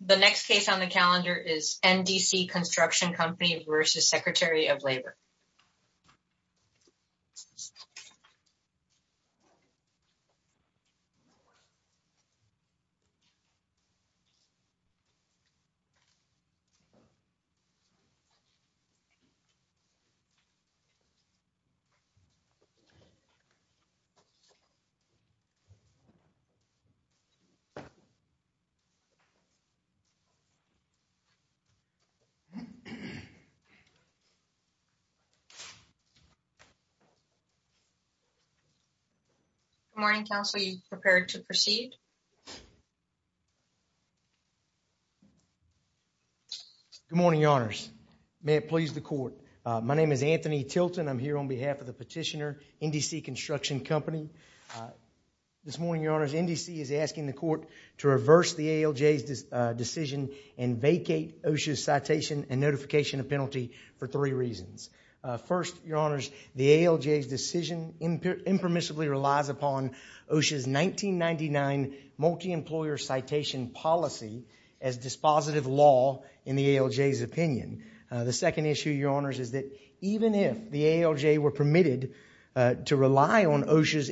The next case on the calendar is NDC Construction Company v. Secretary of Labor. Good morning, counsel. Are you prepared to proceed? Good morning, your honors. May it please the court. My name is Anthony Tilton. I'm here on behalf of the petitioner, NDC Construction Company. This morning, your honors, NDC is asking the court to reverse the ALJ's decision and vacate OSHA's citation and notification of penalty for three reasons. First, your honors, the ALJ's decision impermissibly relies upon OSHA's 1999 multi-employer citation policy as dispositive law in the ALJ's opinion. The second issue, your honors, is that even if the ALJ were permitted to rely on OSHA's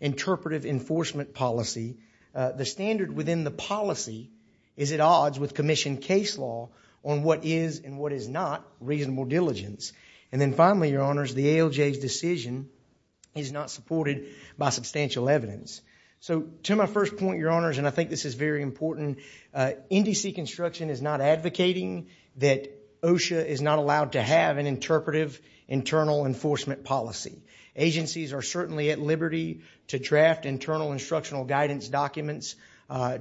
interpretive enforcement policy, the standard within the policy is at odds with commission case law on what is and what is not reasonable diligence. And then finally, your honors, the ALJ's decision is not supported by substantial evidence. So to my first point, your honors, and I think this is very important, NDC Construction is not advocating that OSHA is not allowed to have an interpretive internal enforcement policy. Agencies are certainly at liberty to draft internal instructional guidance documents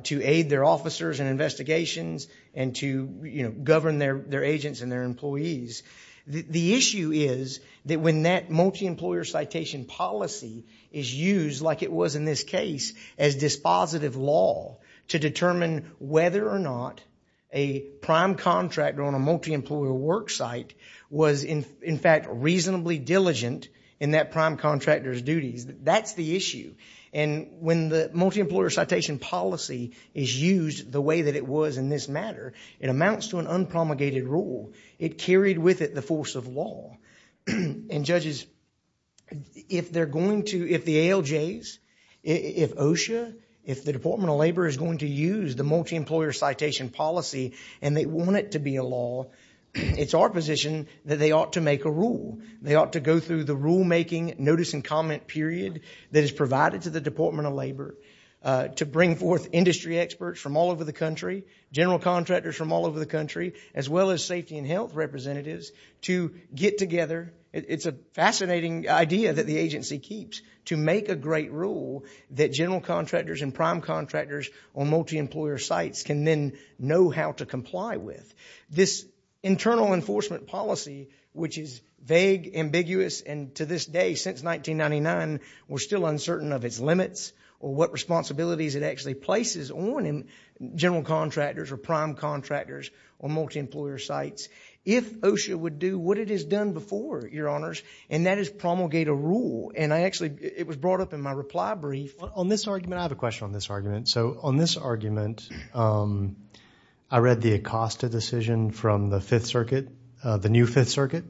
to aid their officers and investigations and to govern their agents and their employees. The issue is that when that multi-employer citation policy is used like it was in this case as dispositive law to determine whether or not a prime contractor on a multi-employer work site was in fact reasonably diligent in that prime contractor's duties, that's the issue. And when the multi-employer citation policy is used the way that it was in this matter, it amounts to an unpromulgated rule. It carried with it the force of law. And judges, if they're going to, if the ALJs, if OSHA, if the Department of Labor is going to use the multi-employer citation policy and they want it to be a law, it's our position that they ought to make a rule. They ought to go through the rulemaking notice and comment period that is provided to the Department of Labor to bring forth industry experts from all over the country, general contractors from all over the country, as well as safety and health representatives to get together. It's a fascinating idea that the agency keeps to make a great rule that general contractors and prime contractors on multi-employer sites can then know how to comply with. This internal enforcement policy, which is vague, ambiguous, and to this day, since 1999, we're still uncertain of its limits or what responsibilities it actually places on general contractors or prime contractors on multi-employer sites, if OSHA would do what it has done before, Your Honors, and that is promulgate a rule. And I actually, it was brought up in my reply brief. On this argument, I have a question on this argument. So on this argument, I read the ACOSTA decision from the Fifth Circuit, the new Fifth Circuit.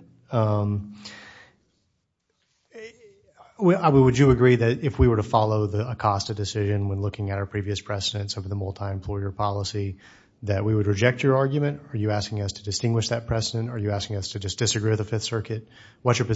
Would you agree that if we were to follow the ACOSTA decision when looking at our previous precedents of the multi-employer policy, that we would reject your argument? Are you asking us to distinguish that precedent? Are you asking us to just disagree with the Fifth Circuit? What's your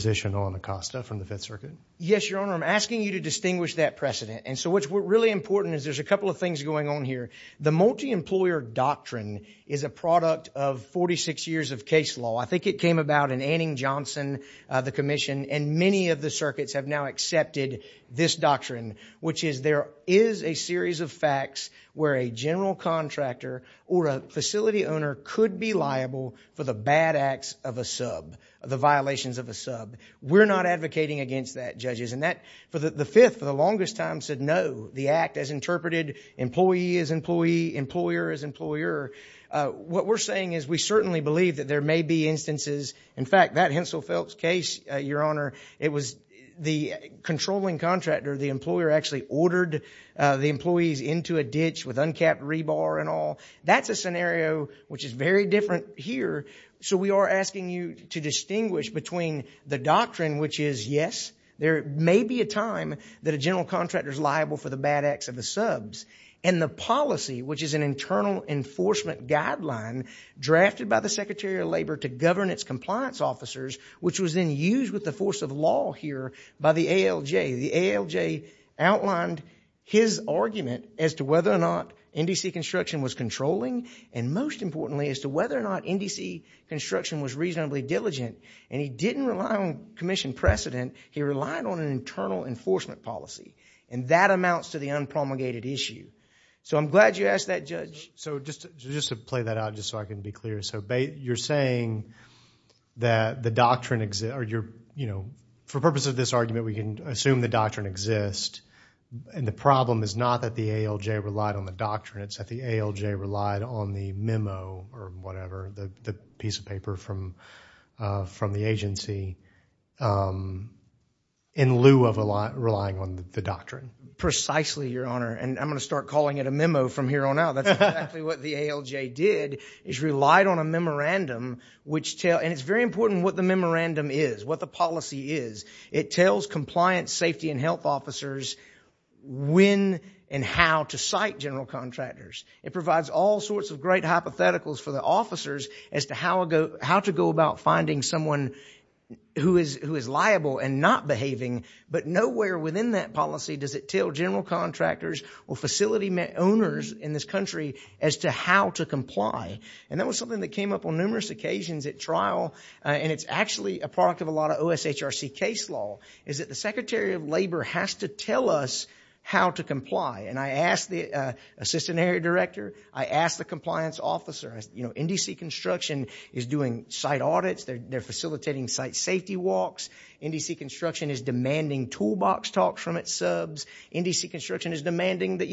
Yes, Your Honor, I'm asking you to distinguish that precedent. And so what's really important is there's a couple of things going on here. The multi-employer doctrine is a product of 46 years of case law. I think it came about in Anning-Johnson, the commission, and many of the circuits have now accepted this doctrine, which is there is a series of facts where a general contractor or a facility owner could be liable for the bad acts of a sub, the violations of a sub. We're not advocating against that, judges. And that, the Fifth, for the longest time, said no. The act has interpreted employee as employee, employer as employer. What we're saying is we certainly believe that there may be instances, in fact, that Hensel Phelps case, Your Honor, it was the controlling contractor, the employer, actually ordered the employees into a ditch with uncapped rebar and all. That's a scenario which is very different here. So we are asking you to distinguish between the doctrine, which is yes, there may be a time that a general contractor is liable for the bad acts of the subs, and the policy, which is an internal enforcement guideline drafted by the Secretary of Labor to govern its compliance officers, which was then used with the force of law here by the ALJ. The ALJ outlined his argument as to whether or not NDC construction was controlling, and most importantly, as to whether or not NDC construction was reasonably diligent. And he didn't rely on commission precedent. He relied on an internal enforcement policy. And that amounts to the unpromulgated issue. So I'm glad you asked that, Judge. So just to play that out, just so I can be clear. So you're saying that the doctrine exists, or you're, you know, for purposes of this argument, we can assume the doctrine exists. And the problem is not that the ALJ relied on the doctrine. It's that the ALJ relied on the memo, or whatever, the piece of paper from the agency, in lieu of relying on the doctrine. Precisely, Your Honor. And I'm going to start calling it a memo from here on out. That's exactly what the ALJ did, is relied on a memorandum, which tell, and it's very important what the memorandum is, what the policy is. It tells compliance, safety, and health officers when and how to cite general contractors. It provides all sorts of great hypotheticals for the officers as to how to go about finding someone who is liable and not behaving. But nowhere within that policy does it tell general contractors or facility owners in this country as to how to comply. And that was something that came up on numerous occasions at trial. And it's actually a product of a lot of OSHRC case law, is that the Secretary of Labor has to tell us how to comply. And I asked the Assistant Area Director. I asked the compliance officer. NDC Construction is doing site audits. They're facilitating site safety walks. NDC Construction is demanding toolbox talks from its subs. NDC Construction is demanding that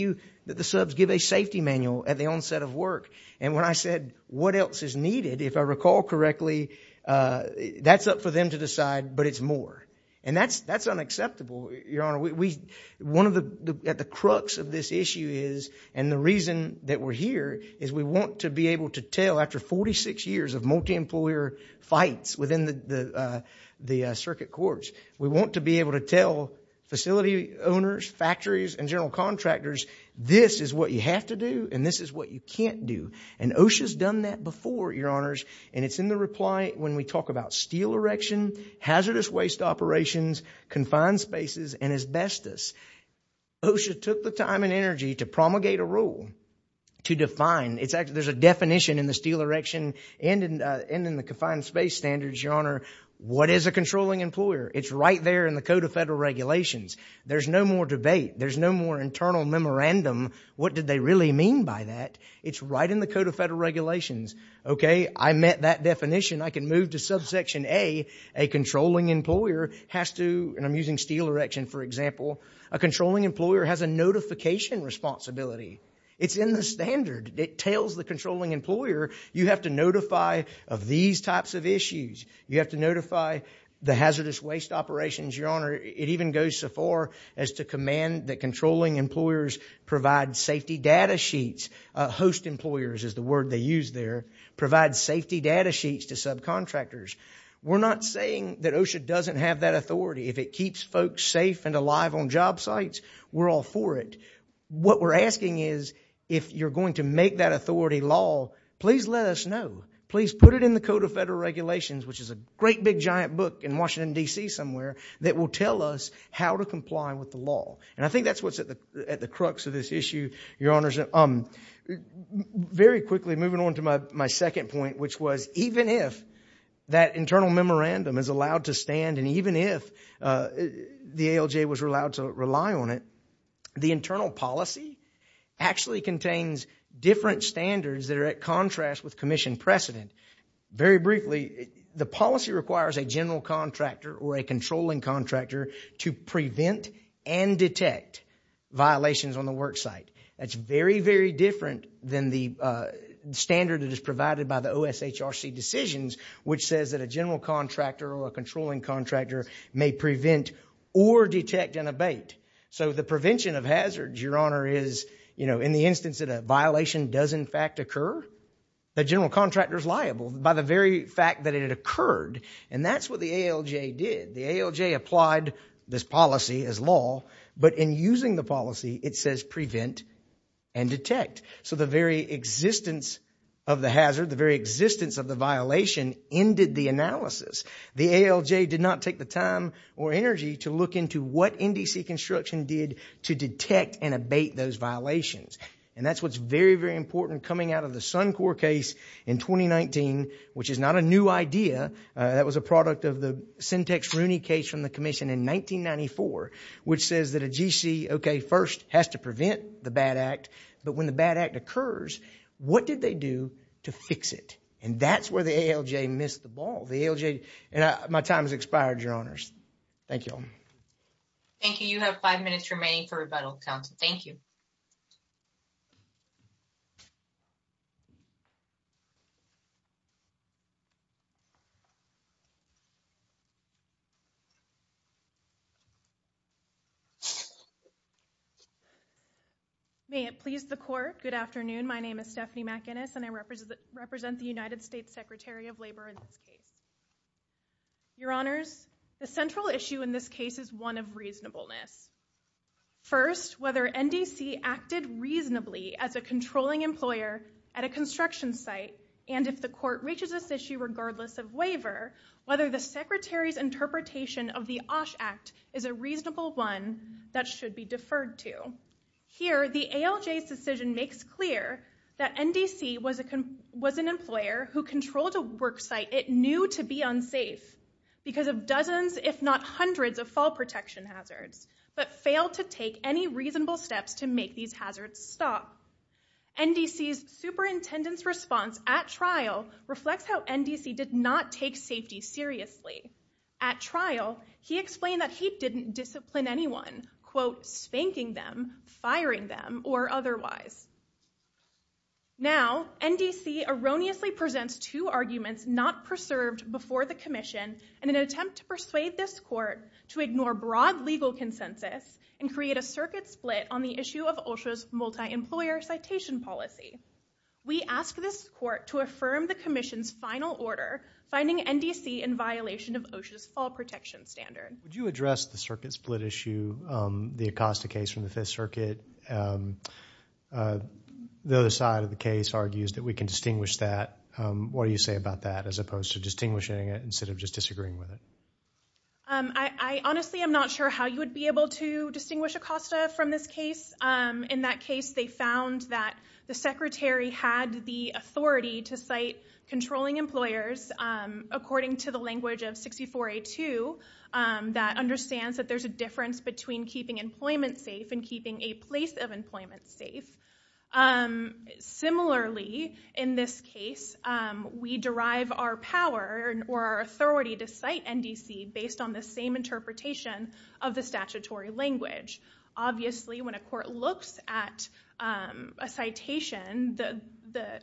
the subs give a safety manual at the onset of work. And when I said, what else is needed, if I recall correctly, that's up for them to decide, but it's more. And that's unacceptable, Your Honor. One of the crux of this issue is, and the reason that we're here, is we want to be able to tell after 46 years of multi-employer fights within the circuit courts, we want to be able to tell facility owners, factories, and general contractors, this is what you have to do, and this is what you can't do. And OSHA's done that before, Your Honors. And it's in reply when we talk about steel erection, hazardous waste operations, confined spaces, and asbestos. OSHA took the time and energy to promulgate a rule to define, there's a definition in the steel erection and in the confined space standards, Your Honor, what is a controlling employer? It's right there in the Code of Federal Regulations. There's no more debate. There's no more internal memorandum. What did they really mean by that? It's right in the Code of Federal Regulations. Okay? I met that definition. I can move to subsection A. A controlling employer has to, and I'm using steel erection for example, a controlling employer has a notification responsibility. It's in the standard. It tells the controlling employer, you have to notify of these types of issues. You have to notify the hazardous waste operations, Your Honor. It even goes so far as to command that controlling employers safety data sheets. Host employers is the word they use there. Provide safety data sheets to subcontractors. We're not saying that OSHA doesn't have that authority. If it keeps folks safe and alive on job sites, we're all for it. What we're asking is, if you're going to make that authority law, please let us know. Please put it in the Code of Federal Regulations, which is a great big giant book in Washington, D.C. somewhere, that will tell us how to comply with the law. I think that's what's at the crux of this issue, Your Honors. Very quickly, moving on to my second point, which was even if that internal memorandum is allowed to stand, and even if the ALJ was allowed to rely on it, the internal policy actually contains different standards that are at contrast with commission precedent. Very briefly, the policy requires a general contractor or a controlling contractor to prevent and detect violations on the work site. That's very, very different than the standard that is provided by the OSHRC decisions, which says that a general contractor or a controlling contractor may prevent or detect an abate. So the prevention of hazards, Your Honor, is, you know, in the instance that a violation does in fact occur, the general contractor is liable by the very fact that it occurred. And that's what the ALJ did. The ALJ applied this policy as law, but in using the policy, it says prevent and detect. So the very existence of the hazard, the very existence of the violation, ended the analysis. The ALJ did not take the time or energy to look into what NDC construction did to detect and abate those violations. And that's what's very, very important coming out of the Sun in 2019, which is not a new idea. That was a product of the Syntex Rooney case from the commission in 1994, which says that a GC, okay, first has to prevent the bad act. But when the bad act occurs, what did they do to fix it? And that's where the ALJ missed the ball. The ALJ, and my time has expired, Your Honors. Thank you all. Thank you. You have five minutes remaining for rebuttal, counsel. Thank you. May it please the court. Good afternoon. My name is Stephanie McInnis, and I represent the United States Secretary of Labor in this case. Your Honors, the central issue in this case is one of reasonableness. First, whether NDC acted reasonably as a controlling employer at a construction site. And if the court reaches this issue, regardless of waiver, whether the secretary's interpretation of the OSH Act is a reasonable one that should be deferred to. Here, the ALJ's decision makes clear that NDC was an employer who controlled a worksite it knew to be unsafe because of dozens, if not hundreds, of fall protection hazards, but failed to take any reasonable steps to make these hazards stop. NDC's superintendent's response at trial reflects how NDC did not take safety seriously. At trial, he explained that he didn't discipline anyone, quote, spanking them, firing them, or otherwise. Now, NDC erroneously presents two arguments not preserved before the commission in an attempt to persuade this court to ignore broad legal consensus and create a circuit split on the issue of OSHA's multi-employer citation policy. We ask this court to affirm the commission's final order, finding NDC in violation of OSHA's fall protection standard. Would you address the circuit split issue, the Acosta case from the Fifth Circuit? The other side of the case argues that we can distinguish that. What do you say about that instead of just disagreeing with it? I honestly am not sure how you would be able to distinguish Acosta from this case. In that case, they found that the secretary had the authority to cite controlling employers, according to the language of 64A2, that understands that there's a difference between keeping employment safe and keeping a place of employment safe. Similarly, in this case, we derive our power, or our authority, from the fact that we have the authority to cite NDC based on the same interpretation of the statutory language. Obviously, when a court looks at a citation, the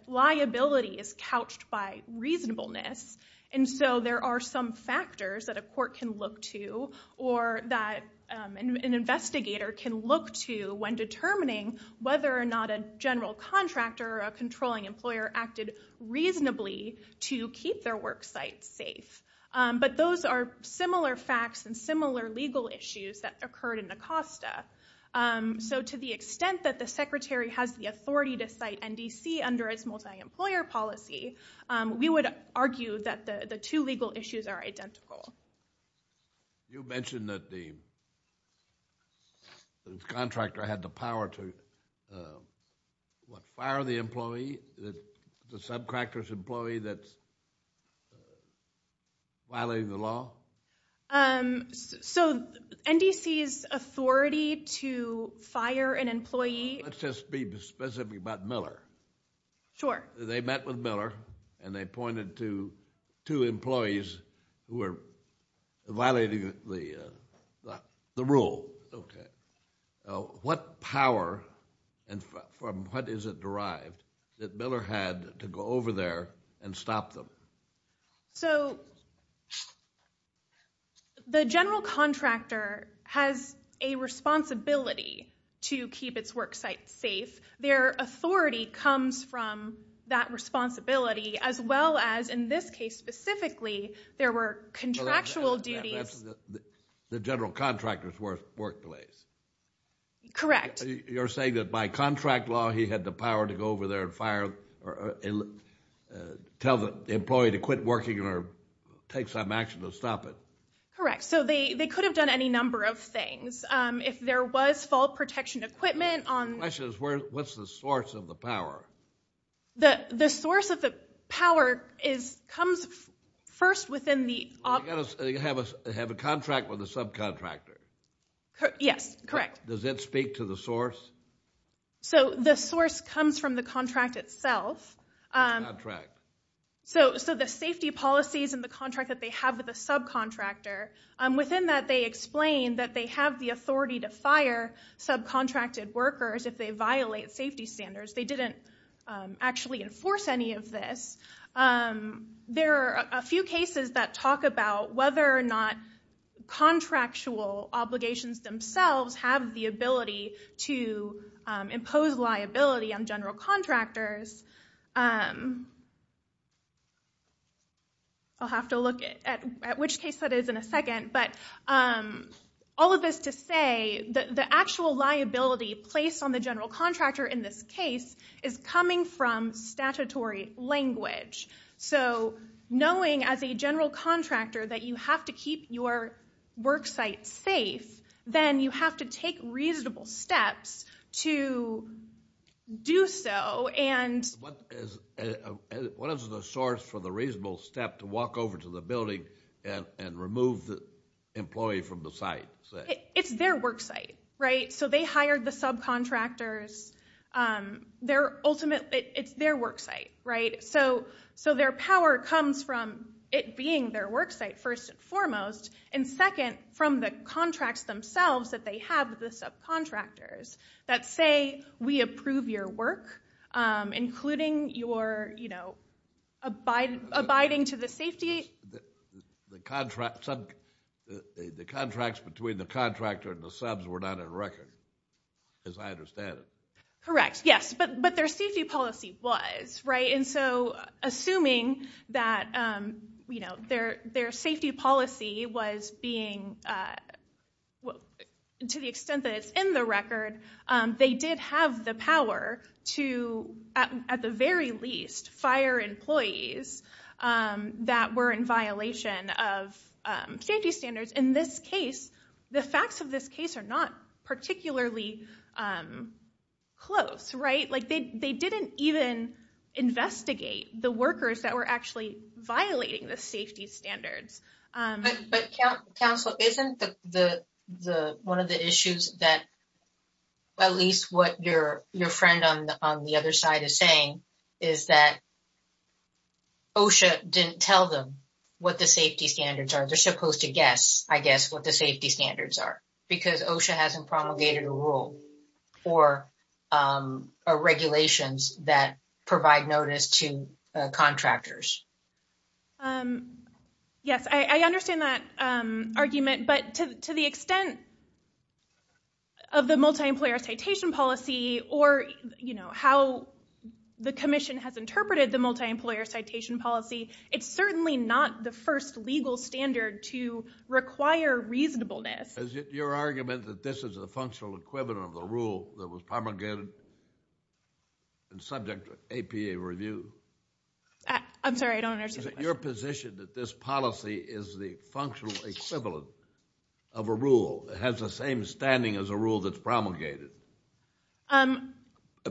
liability is couched by reasonableness. There are some factors that a court can look to, or that an investigator can look to, when determining whether or not a general contractor or a controlling employer acted reasonably to keep their work site safe. But those are similar facts and similar legal issues that occurred in Acosta. To the extent that the secretary has the authority to cite NDC under its multi-employer policy, we would argue that the two legal issues are identical. You mentioned that the contractor had the power to fire the subcontractor's employee that's violating the law? So, NDC's authority to fire an employee... Let's just be specific about Miller. They met with Miller, and they pointed to two employees who were violating the rule. What power, and from what is it derived, that Miller had to go over there and stop them? The general contractor has a responsibility to keep its work site safe. Their authority comes from that responsibility, as well as, in this case specifically, there were contractual duties... The general contractor's workplace? Correct. You're saying that by contract law, he had the power to go over there and tell the employee to quit working or take some action to stop it? Correct. So, they could have done any number of things. If there was fall protection equipment... My question is, what's the source of the power? The source of the power comes first within the... They have a contract with a subcontractor. Yes, correct. Does that speak to the source? So, the source comes from the contract itself. The contract. So, the safety policies and the contract that they have with the subcontractor, within that they explain that they have the authority to fire subcontracted workers if they violate safety standards. They didn't actually enforce any of this. There are a few cases that talk about whether or not contractual obligations themselves have the ability to impose liability on general contractors. I'll have to look at which case that is in a second. All of this to say, the actual liability placed on the general contractor in this case is coming from statutory language. So, knowing as a general contractor that you have to keep your worksite safe, then you have to take reasonable steps to do so. What is the source for the reasonable step to walk over to the building and remove the employee from the site? It's their worksite, right? So, they hired the subcontractors. It's their worksite, right? So, their power comes from it being their worksite, first and foremost, and second, from the contracts themselves that they have with the subcontractors that say, we approve your work, including your abiding to the safety... The contracts between the contractor and the subs were not in record, as I understand it. Correct, yes, but their safety policy was, right? So, assuming that their safety policy was being, to the extent that it's in the record, they did have the power to, at the safety standards. In this case, the facts of this case are not particularly close, right? Like, they didn't even investigate the workers that were actually violating the safety standards. But Council, isn't one of the issues that, at least what your friend on the other side is saying, is that OSHA didn't tell them what the safety standards are. They're supposed to guess, I guess, what the safety standards are, because OSHA hasn't promulgated a rule or regulations that provide notice to contractors. Yes, I understand that argument, but to the extent of the multi-employer citation policy or, you know, how the Commission has interpreted the multi-employer citation policy, it's certainly not the first legal standard to require reasonableness. Is it your argument that this is a functional equivalent of the rule that was promulgated and subject to APA review? I'm sorry, I don't understand the question. Is it your position that this policy is the functional equivalent of a rule that has the same standing as a rule that's promulgated,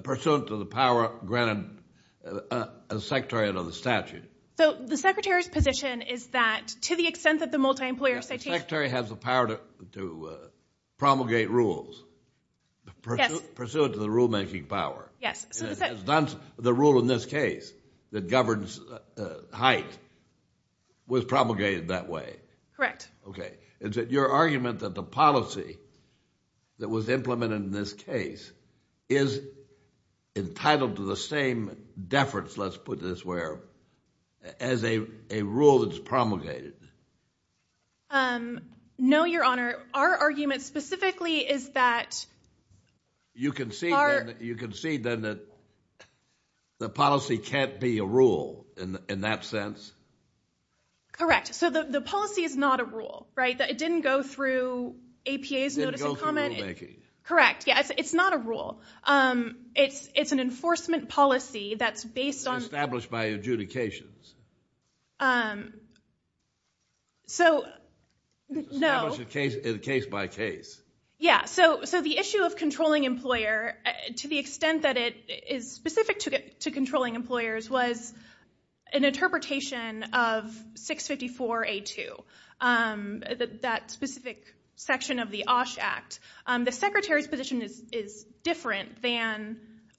pursuant to the power granted as Secretary under the statute? So, the Secretary's position is that, to the extent that the multi-employer citation... The Secretary has the power to promulgate rules. Yes. Pursuant to the rule-making power. Yes. The rule in this case that governs height was promulgated that way. Correct. Okay. Is it your argument that the policy that was implemented in this case is entitled to the same deference, let's put it this way, as a rule that's promulgated? No, Your Honor. Our argument specifically is that... You concede then that the policy can't be a rule in that sense? Correct. So, the policy is not a rule, right? That it didn't go through APA's notice and comment. It didn't go through rule-making. Correct. Yeah, it's not a rule. It's an enforcement policy that's based on... It's established by adjudications. So, no. It's established case by case. Yeah. So, the issue of controlling employer, to the extent that it is specific to controlling employers was an interpretation of 654A2, that specific section of the OSH Act. The Secretary's position is different than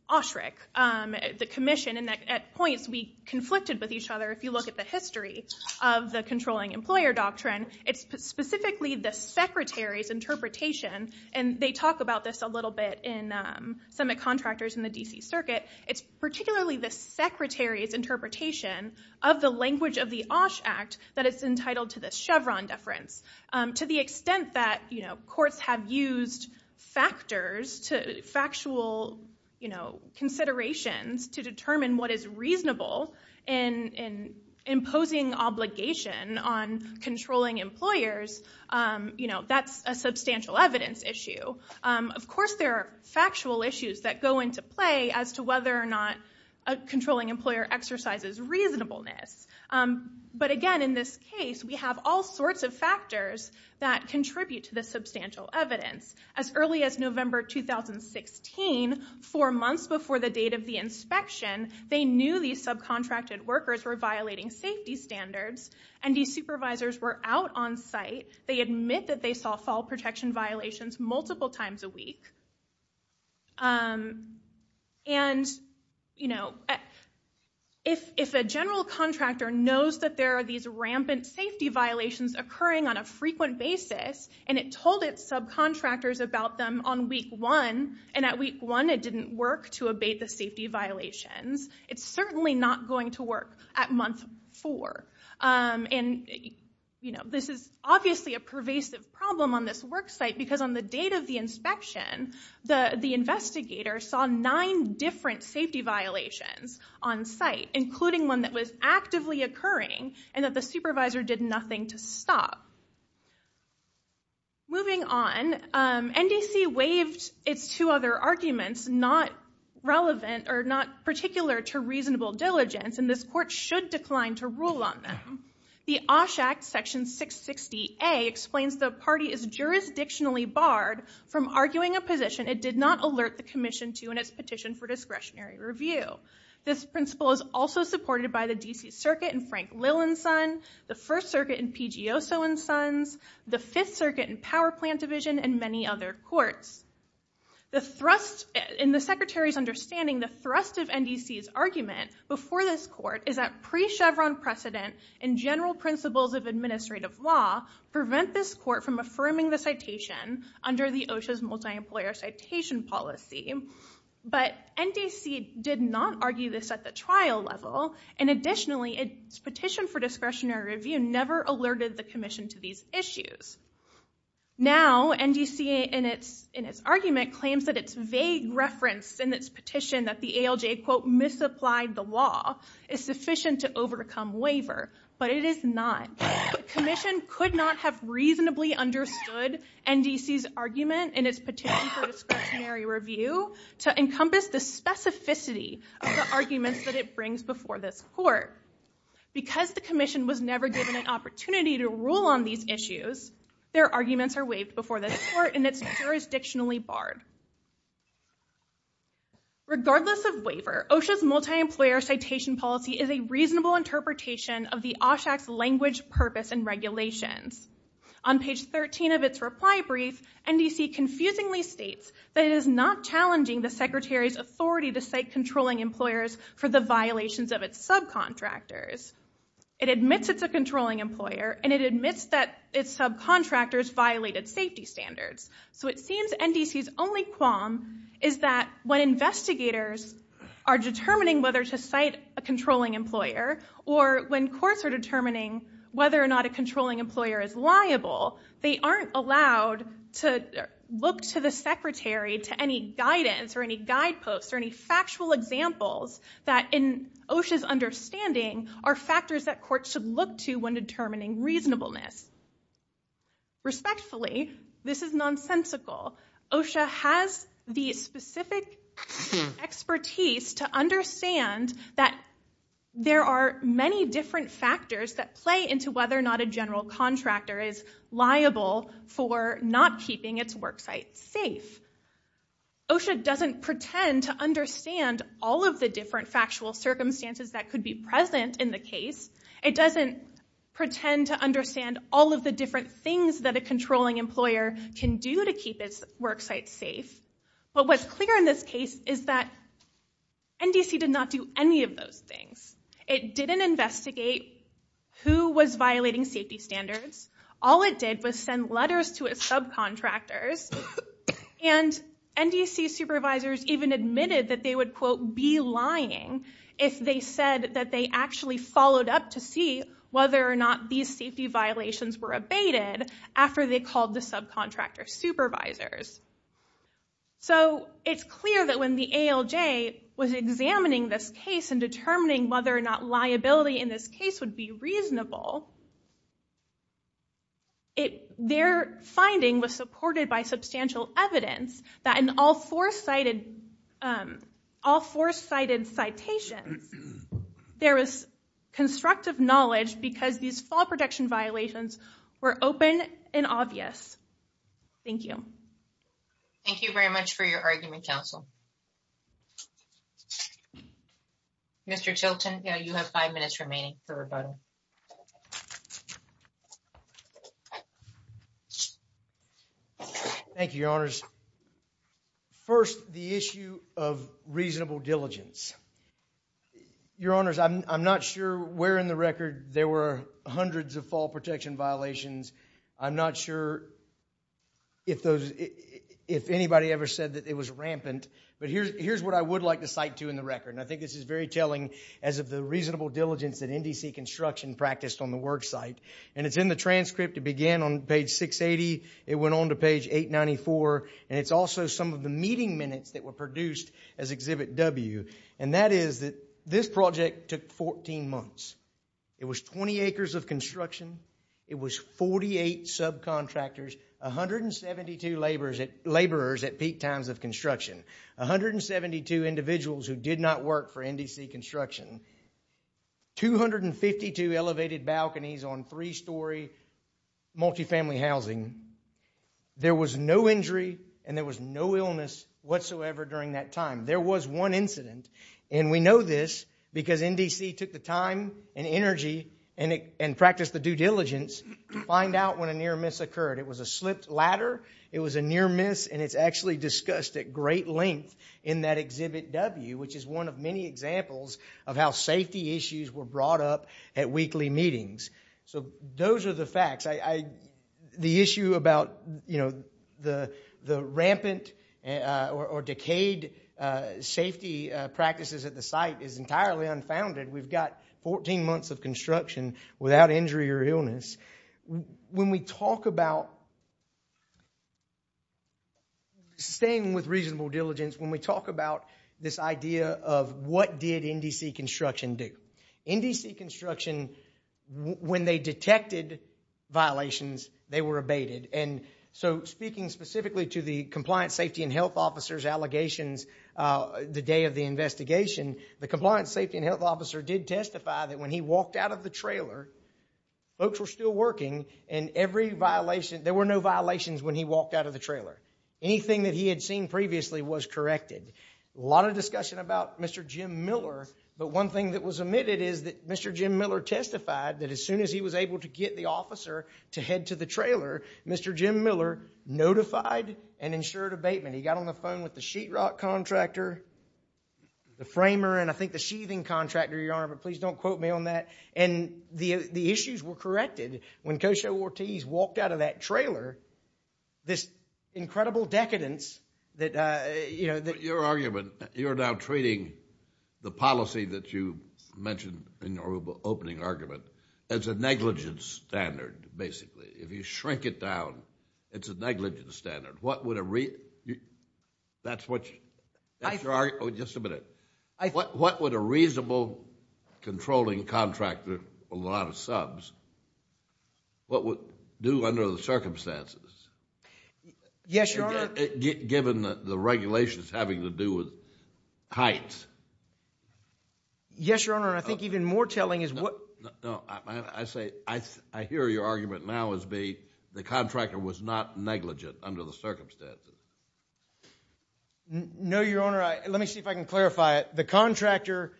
OSHRC, the commission, and at points we conflicted with each other. If you look at the history of the controlling employer doctrine, it's specifically the Secretary's interpretation, and they talk about this a little bit in Summit Contractors in the D.C. Circuit. It's particularly the Secretary's interpretation of the language of the OSH Act that is entitled to this Chevron deference. To the extent that courts have used factors, factual considerations, to determine what is reasonable in imposing obligation on controlling employers, that's a substantial evidence issue. Of course, there are factual issues that go into play as to whether or not a controlling employer exercises reasonableness. But again, in this case, we have all sorts of factors that contribute to the substantial evidence. As early as November 2016, four months before the date of the inspection, they knew these subcontracted workers were violating safety standards, and these supervisors were out on site. They admit that they saw fall protection violations multiple times a week. If a general contractor knows that there are these rampant safety violations occurring on a frequent basis, and it told its subcontractors about them on week one, and at week one it didn't work to abate the safety violations, it's certainly not going to work at month four. And this is obviously a pervasive problem on this work site, because on the date of the inspection, the investigator saw nine different safety violations on site, including one that was actively occurring, and that the supervisor did nothing to stop. Moving on, NDC waived its two other arguments not relevant or not particular to reasonable diligence, and this court should decline to rule on them. The Osh Act, section 660A, explains the party is jurisdictionally barred from arguing a position it did not alert the commission to in its petition for discretionary review. This principle is also supported by the D.C. Circuit in Frank Lillen's son, the First Circuit in P.G. Oso and Sons, the Fifth Circuit in Power Plant Division, and many other courts. In the Secretary's understanding, the thrust of NDC's argument before this court is that pre-Chevron precedent and general principles of administrative law prevent this court from affirming the citation under the OSHA's multi-employer citation policy, but NDC did not argue this at the trial level, and additionally, its petition for discretionary review never alerted the commission to these issues. Now, NDC in its argument claims that its vague reference in its petition that the ALJ, quote, misapplied the law is sufficient to overcome waiver, but it is not. The commission could not have reasonably understood NDC's argument in its petition for discretionary review to encompass the specificity of the arguments that it brings before this court. Because the commission was never given an opportunity to rule on these issues, their arguments are waived before this court, and it's jurisdictionally barred. Regardless of waiver, OSHA's multi-employer citation policy is a reasonable interpretation of the OSHAC's language, purpose, and regulations. On page 13 of its reply brief, NDC confusingly states that it is not challenging the Secretary's subcontractors. It admits it's a controlling employer, and it admits that its subcontractors violated safety standards. So it seems NDC's only qualm is that when investigators are determining whether to cite a controlling employer, or when courts are determining whether or not a controlling employer is liable, they aren't allowed to look to the Secretary to any guidance or any guideposts or any factual examples that, in OSHA's understanding, are factors that courts should look to when determining reasonableness. Respectfully, this is nonsensical. OSHA has the specific expertise to understand that there are many different factors that play into whether or not a general contractor is liable for not keeping its worksite safe. OSHA doesn't pretend to understand all of the different factual circumstances that could be present in the case. It doesn't pretend to understand all of the different things that a controlling employer can do to keep its worksite safe. But what's clear in this case is that NDC did not do any of those things. It didn't investigate who was violating safety standards. All it did was send letters to its subcontractors, and NDC supervisors even admitted that they would, quote, be lying if they said that they actually followed up to see whether or not these safety violations were abated after they called the subcontractor supervisors. So it's clear that when the ALJ was examining this case and determining whether or not liability in this case would be reasonable, their finding was supported by substantial evidence that in all four cited citations, there was constructive knowledge because these fall protection violations were open and obvious. Thank you. Thank you very much for your argument, counsel. Thank you. Mr. Chilton, you have five minutes remaining for rebuttal. Thank you, Your Honors. First, the issue of reasonable diligence. Your Honors, I'm not sure where in the record there were hundreds of fall protection violations. I'm not sure if anybody ever said that it was rampant. But here's what I would like to cite to in the record, and I think this is very telling, as of the reasonable diligence that NDC Construction practiced on the work site. And it's in the transcript. It began on page 680. It went on to page 894. And it's also some of the meeting minutes that were produced as Exhibit W. And that is that this project took 14 months. It was 20 acres of construction. It was 48 subcontractors, 172 laborers at peak times of construction, 172 individuals who did not work for NDC Construction, 252 elevated balconies on three-story multifamily housing. There was no injury and there was no illness whatsoever during that time. There was one incident, and we know this because NDC took the time and energy and practiced the due diligence to find out when a near miss occurred. It was a slipped ladder. It was a near miss, and it's actually discussed at great length in that Exhibit W, which is one of many examples of how safety issues were brought up at weekly meetings. So those are the facts. The issue about the rampant or decayed safety practices at the site is entirely unfounded. We've got 14 months of construction without injury or illness. When we talk about staying with reasonable diligence, when we talk about this idea of what did NDC Construction do, NDC Construction, when they detected violations, they were abated. So speaking specifically to the Compliance, Safety, and Health Officers allegations the day of the investigation, the Compliance, Safety, and Health Officer did testify that when he walked out of the trailer, folks were still working, and there were no violations when he walked out of the trailer. Anything that he had seen previously was corrected. A lot of discussion about Mr. Jim Miller, but one thing that was omitted is that Mr. Jim Miller testified that as soon as he was able to get the officer to head to the trailer, Mr. Jim Miller notified and ensured abatement. He got on the phone with the sheetrock contractor, the framer, and I think the sheathing contractor, Your Honor, but please don't quote me on that. And the issues were corrected. When Kosho Ortiz walked out of that trailer, this incredible decadence that, you know— But your argument, you're now treating the policy that you mentioned in your opening argument as a negligence standard, basically. If you shrink it down, it's a negligence standard. What would a—that's your argument? Just a minute. What would a reasonable controlling contractor with a lot of subs, what would it do under the circumstances? Yes, Your Honor. Given the regulations having to do with heights. Yes, Your Honor, and I think even more telling is what— No, I say—I hear your argument now as being the contractor was not negligent under the circumstances. No, Your Honor. Let me see if I can clarify it. The contractor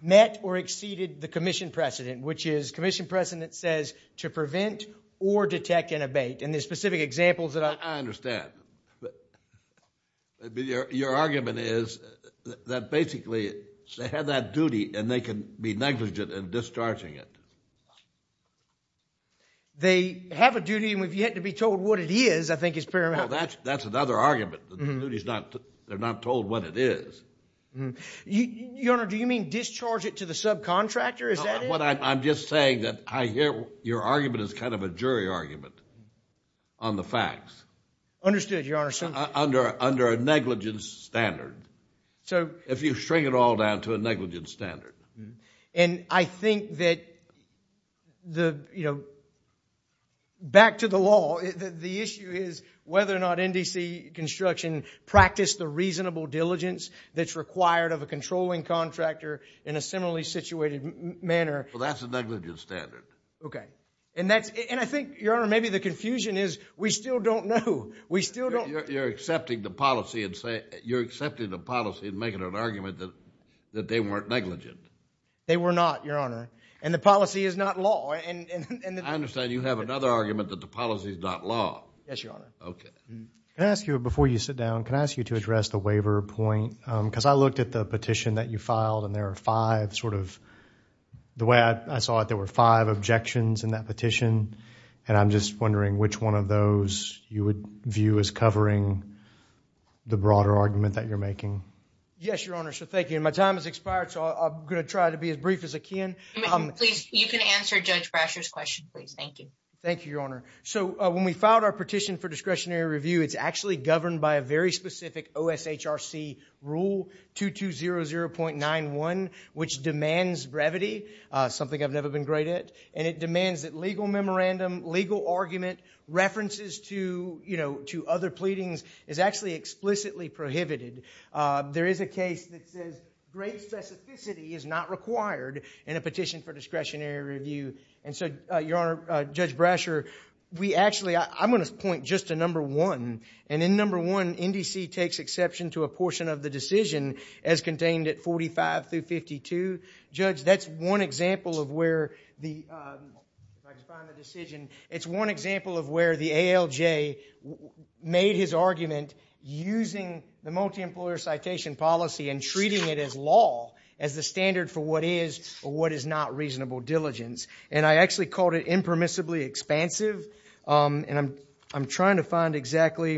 met or exceeded the commission precedent, which is commission precedent says to prevent or detect an abate, and there's specific examples that I— I understand. But your argument is that basically they have that duty and they can be negligent in discharging it. They have a duty and we've yet to be told what it is, I think is paramount. Well, that's another argument. The duty's not—they're not told what it is. Your Honor, do you mean discharge it to the subcontractor? Is that it? No, what I'm just saying that I hear your argument is kind of a jury argument on the facts. Understood, Your Honor. Under a negligence standard. So— If you shrink it all down to a negligence standard. And I think that the—you know, back to the law, the issue is whether or not NDC construction practiced the reasonable diligence that's required of a controlling contractor in a similarly situated manner. Well, that's a negligence standard. Okay, and that's—and I think, Your Honor, maybe the confusion is we still don't know. We still don't— You're accepting the policy and making an argument that they weren't negligent. They were not, Your Honor, and the policy is not law. I understand you have another argument that the policy is not law. Yes, Your Honor. Okay. Can I ask you, before you sit down, can I ask you to address the waiver point? Because I looked at the petition that you filed and there are five sort of— the way I saw it, there were five objections in that petition and I'm just wondering which one of those you would view as covering the broader argument that you're making. Yes, Your Honor. So, thank you. And my time has expired, so I'm going to try to be as brief as I can. Please, you can answer Judge Brasher's question, please. Thank you. Thank you, Your Honor. So, when we filed our petition for discretionary review, it's actually governed by a very specific OSHRC rule, 2200.91, which demands brevity, something I've never been great at, and it demands that legal memorandum, legal argument, references to other pleadings is actually explicitly prohibited. There is a case that says great specificity is not required in a petition for discretionary review. And so, Your Honor, Judge Brasher, we actually—I'm going to point just to number one. And in number one, NDC takes exception to a portion of the decision as contained at 45 through 52. Judge, that's one example of where the—if I can find the decision. It's one example of where the ALJ made his argument using the multi-employer citation policy and treating it as law, as the standard for what is or what is not reasonable diligence. And I actually called it impermissibly expansive. And I'm trying to find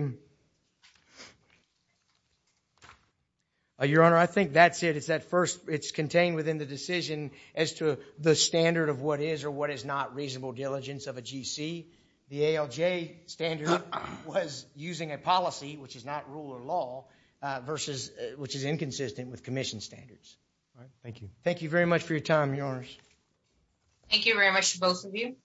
exactly—Your Honor, I think that's it. It's that first—it's contained within the decision as to the standard of what is or what is not reasonable diligence of a GC. The ALJ standard was using a policy, which is not rule or law, versus—which is inconsistent with commission standards. Thank you. Thank you very much for your time, Your Honors. Thank you very much to both of you.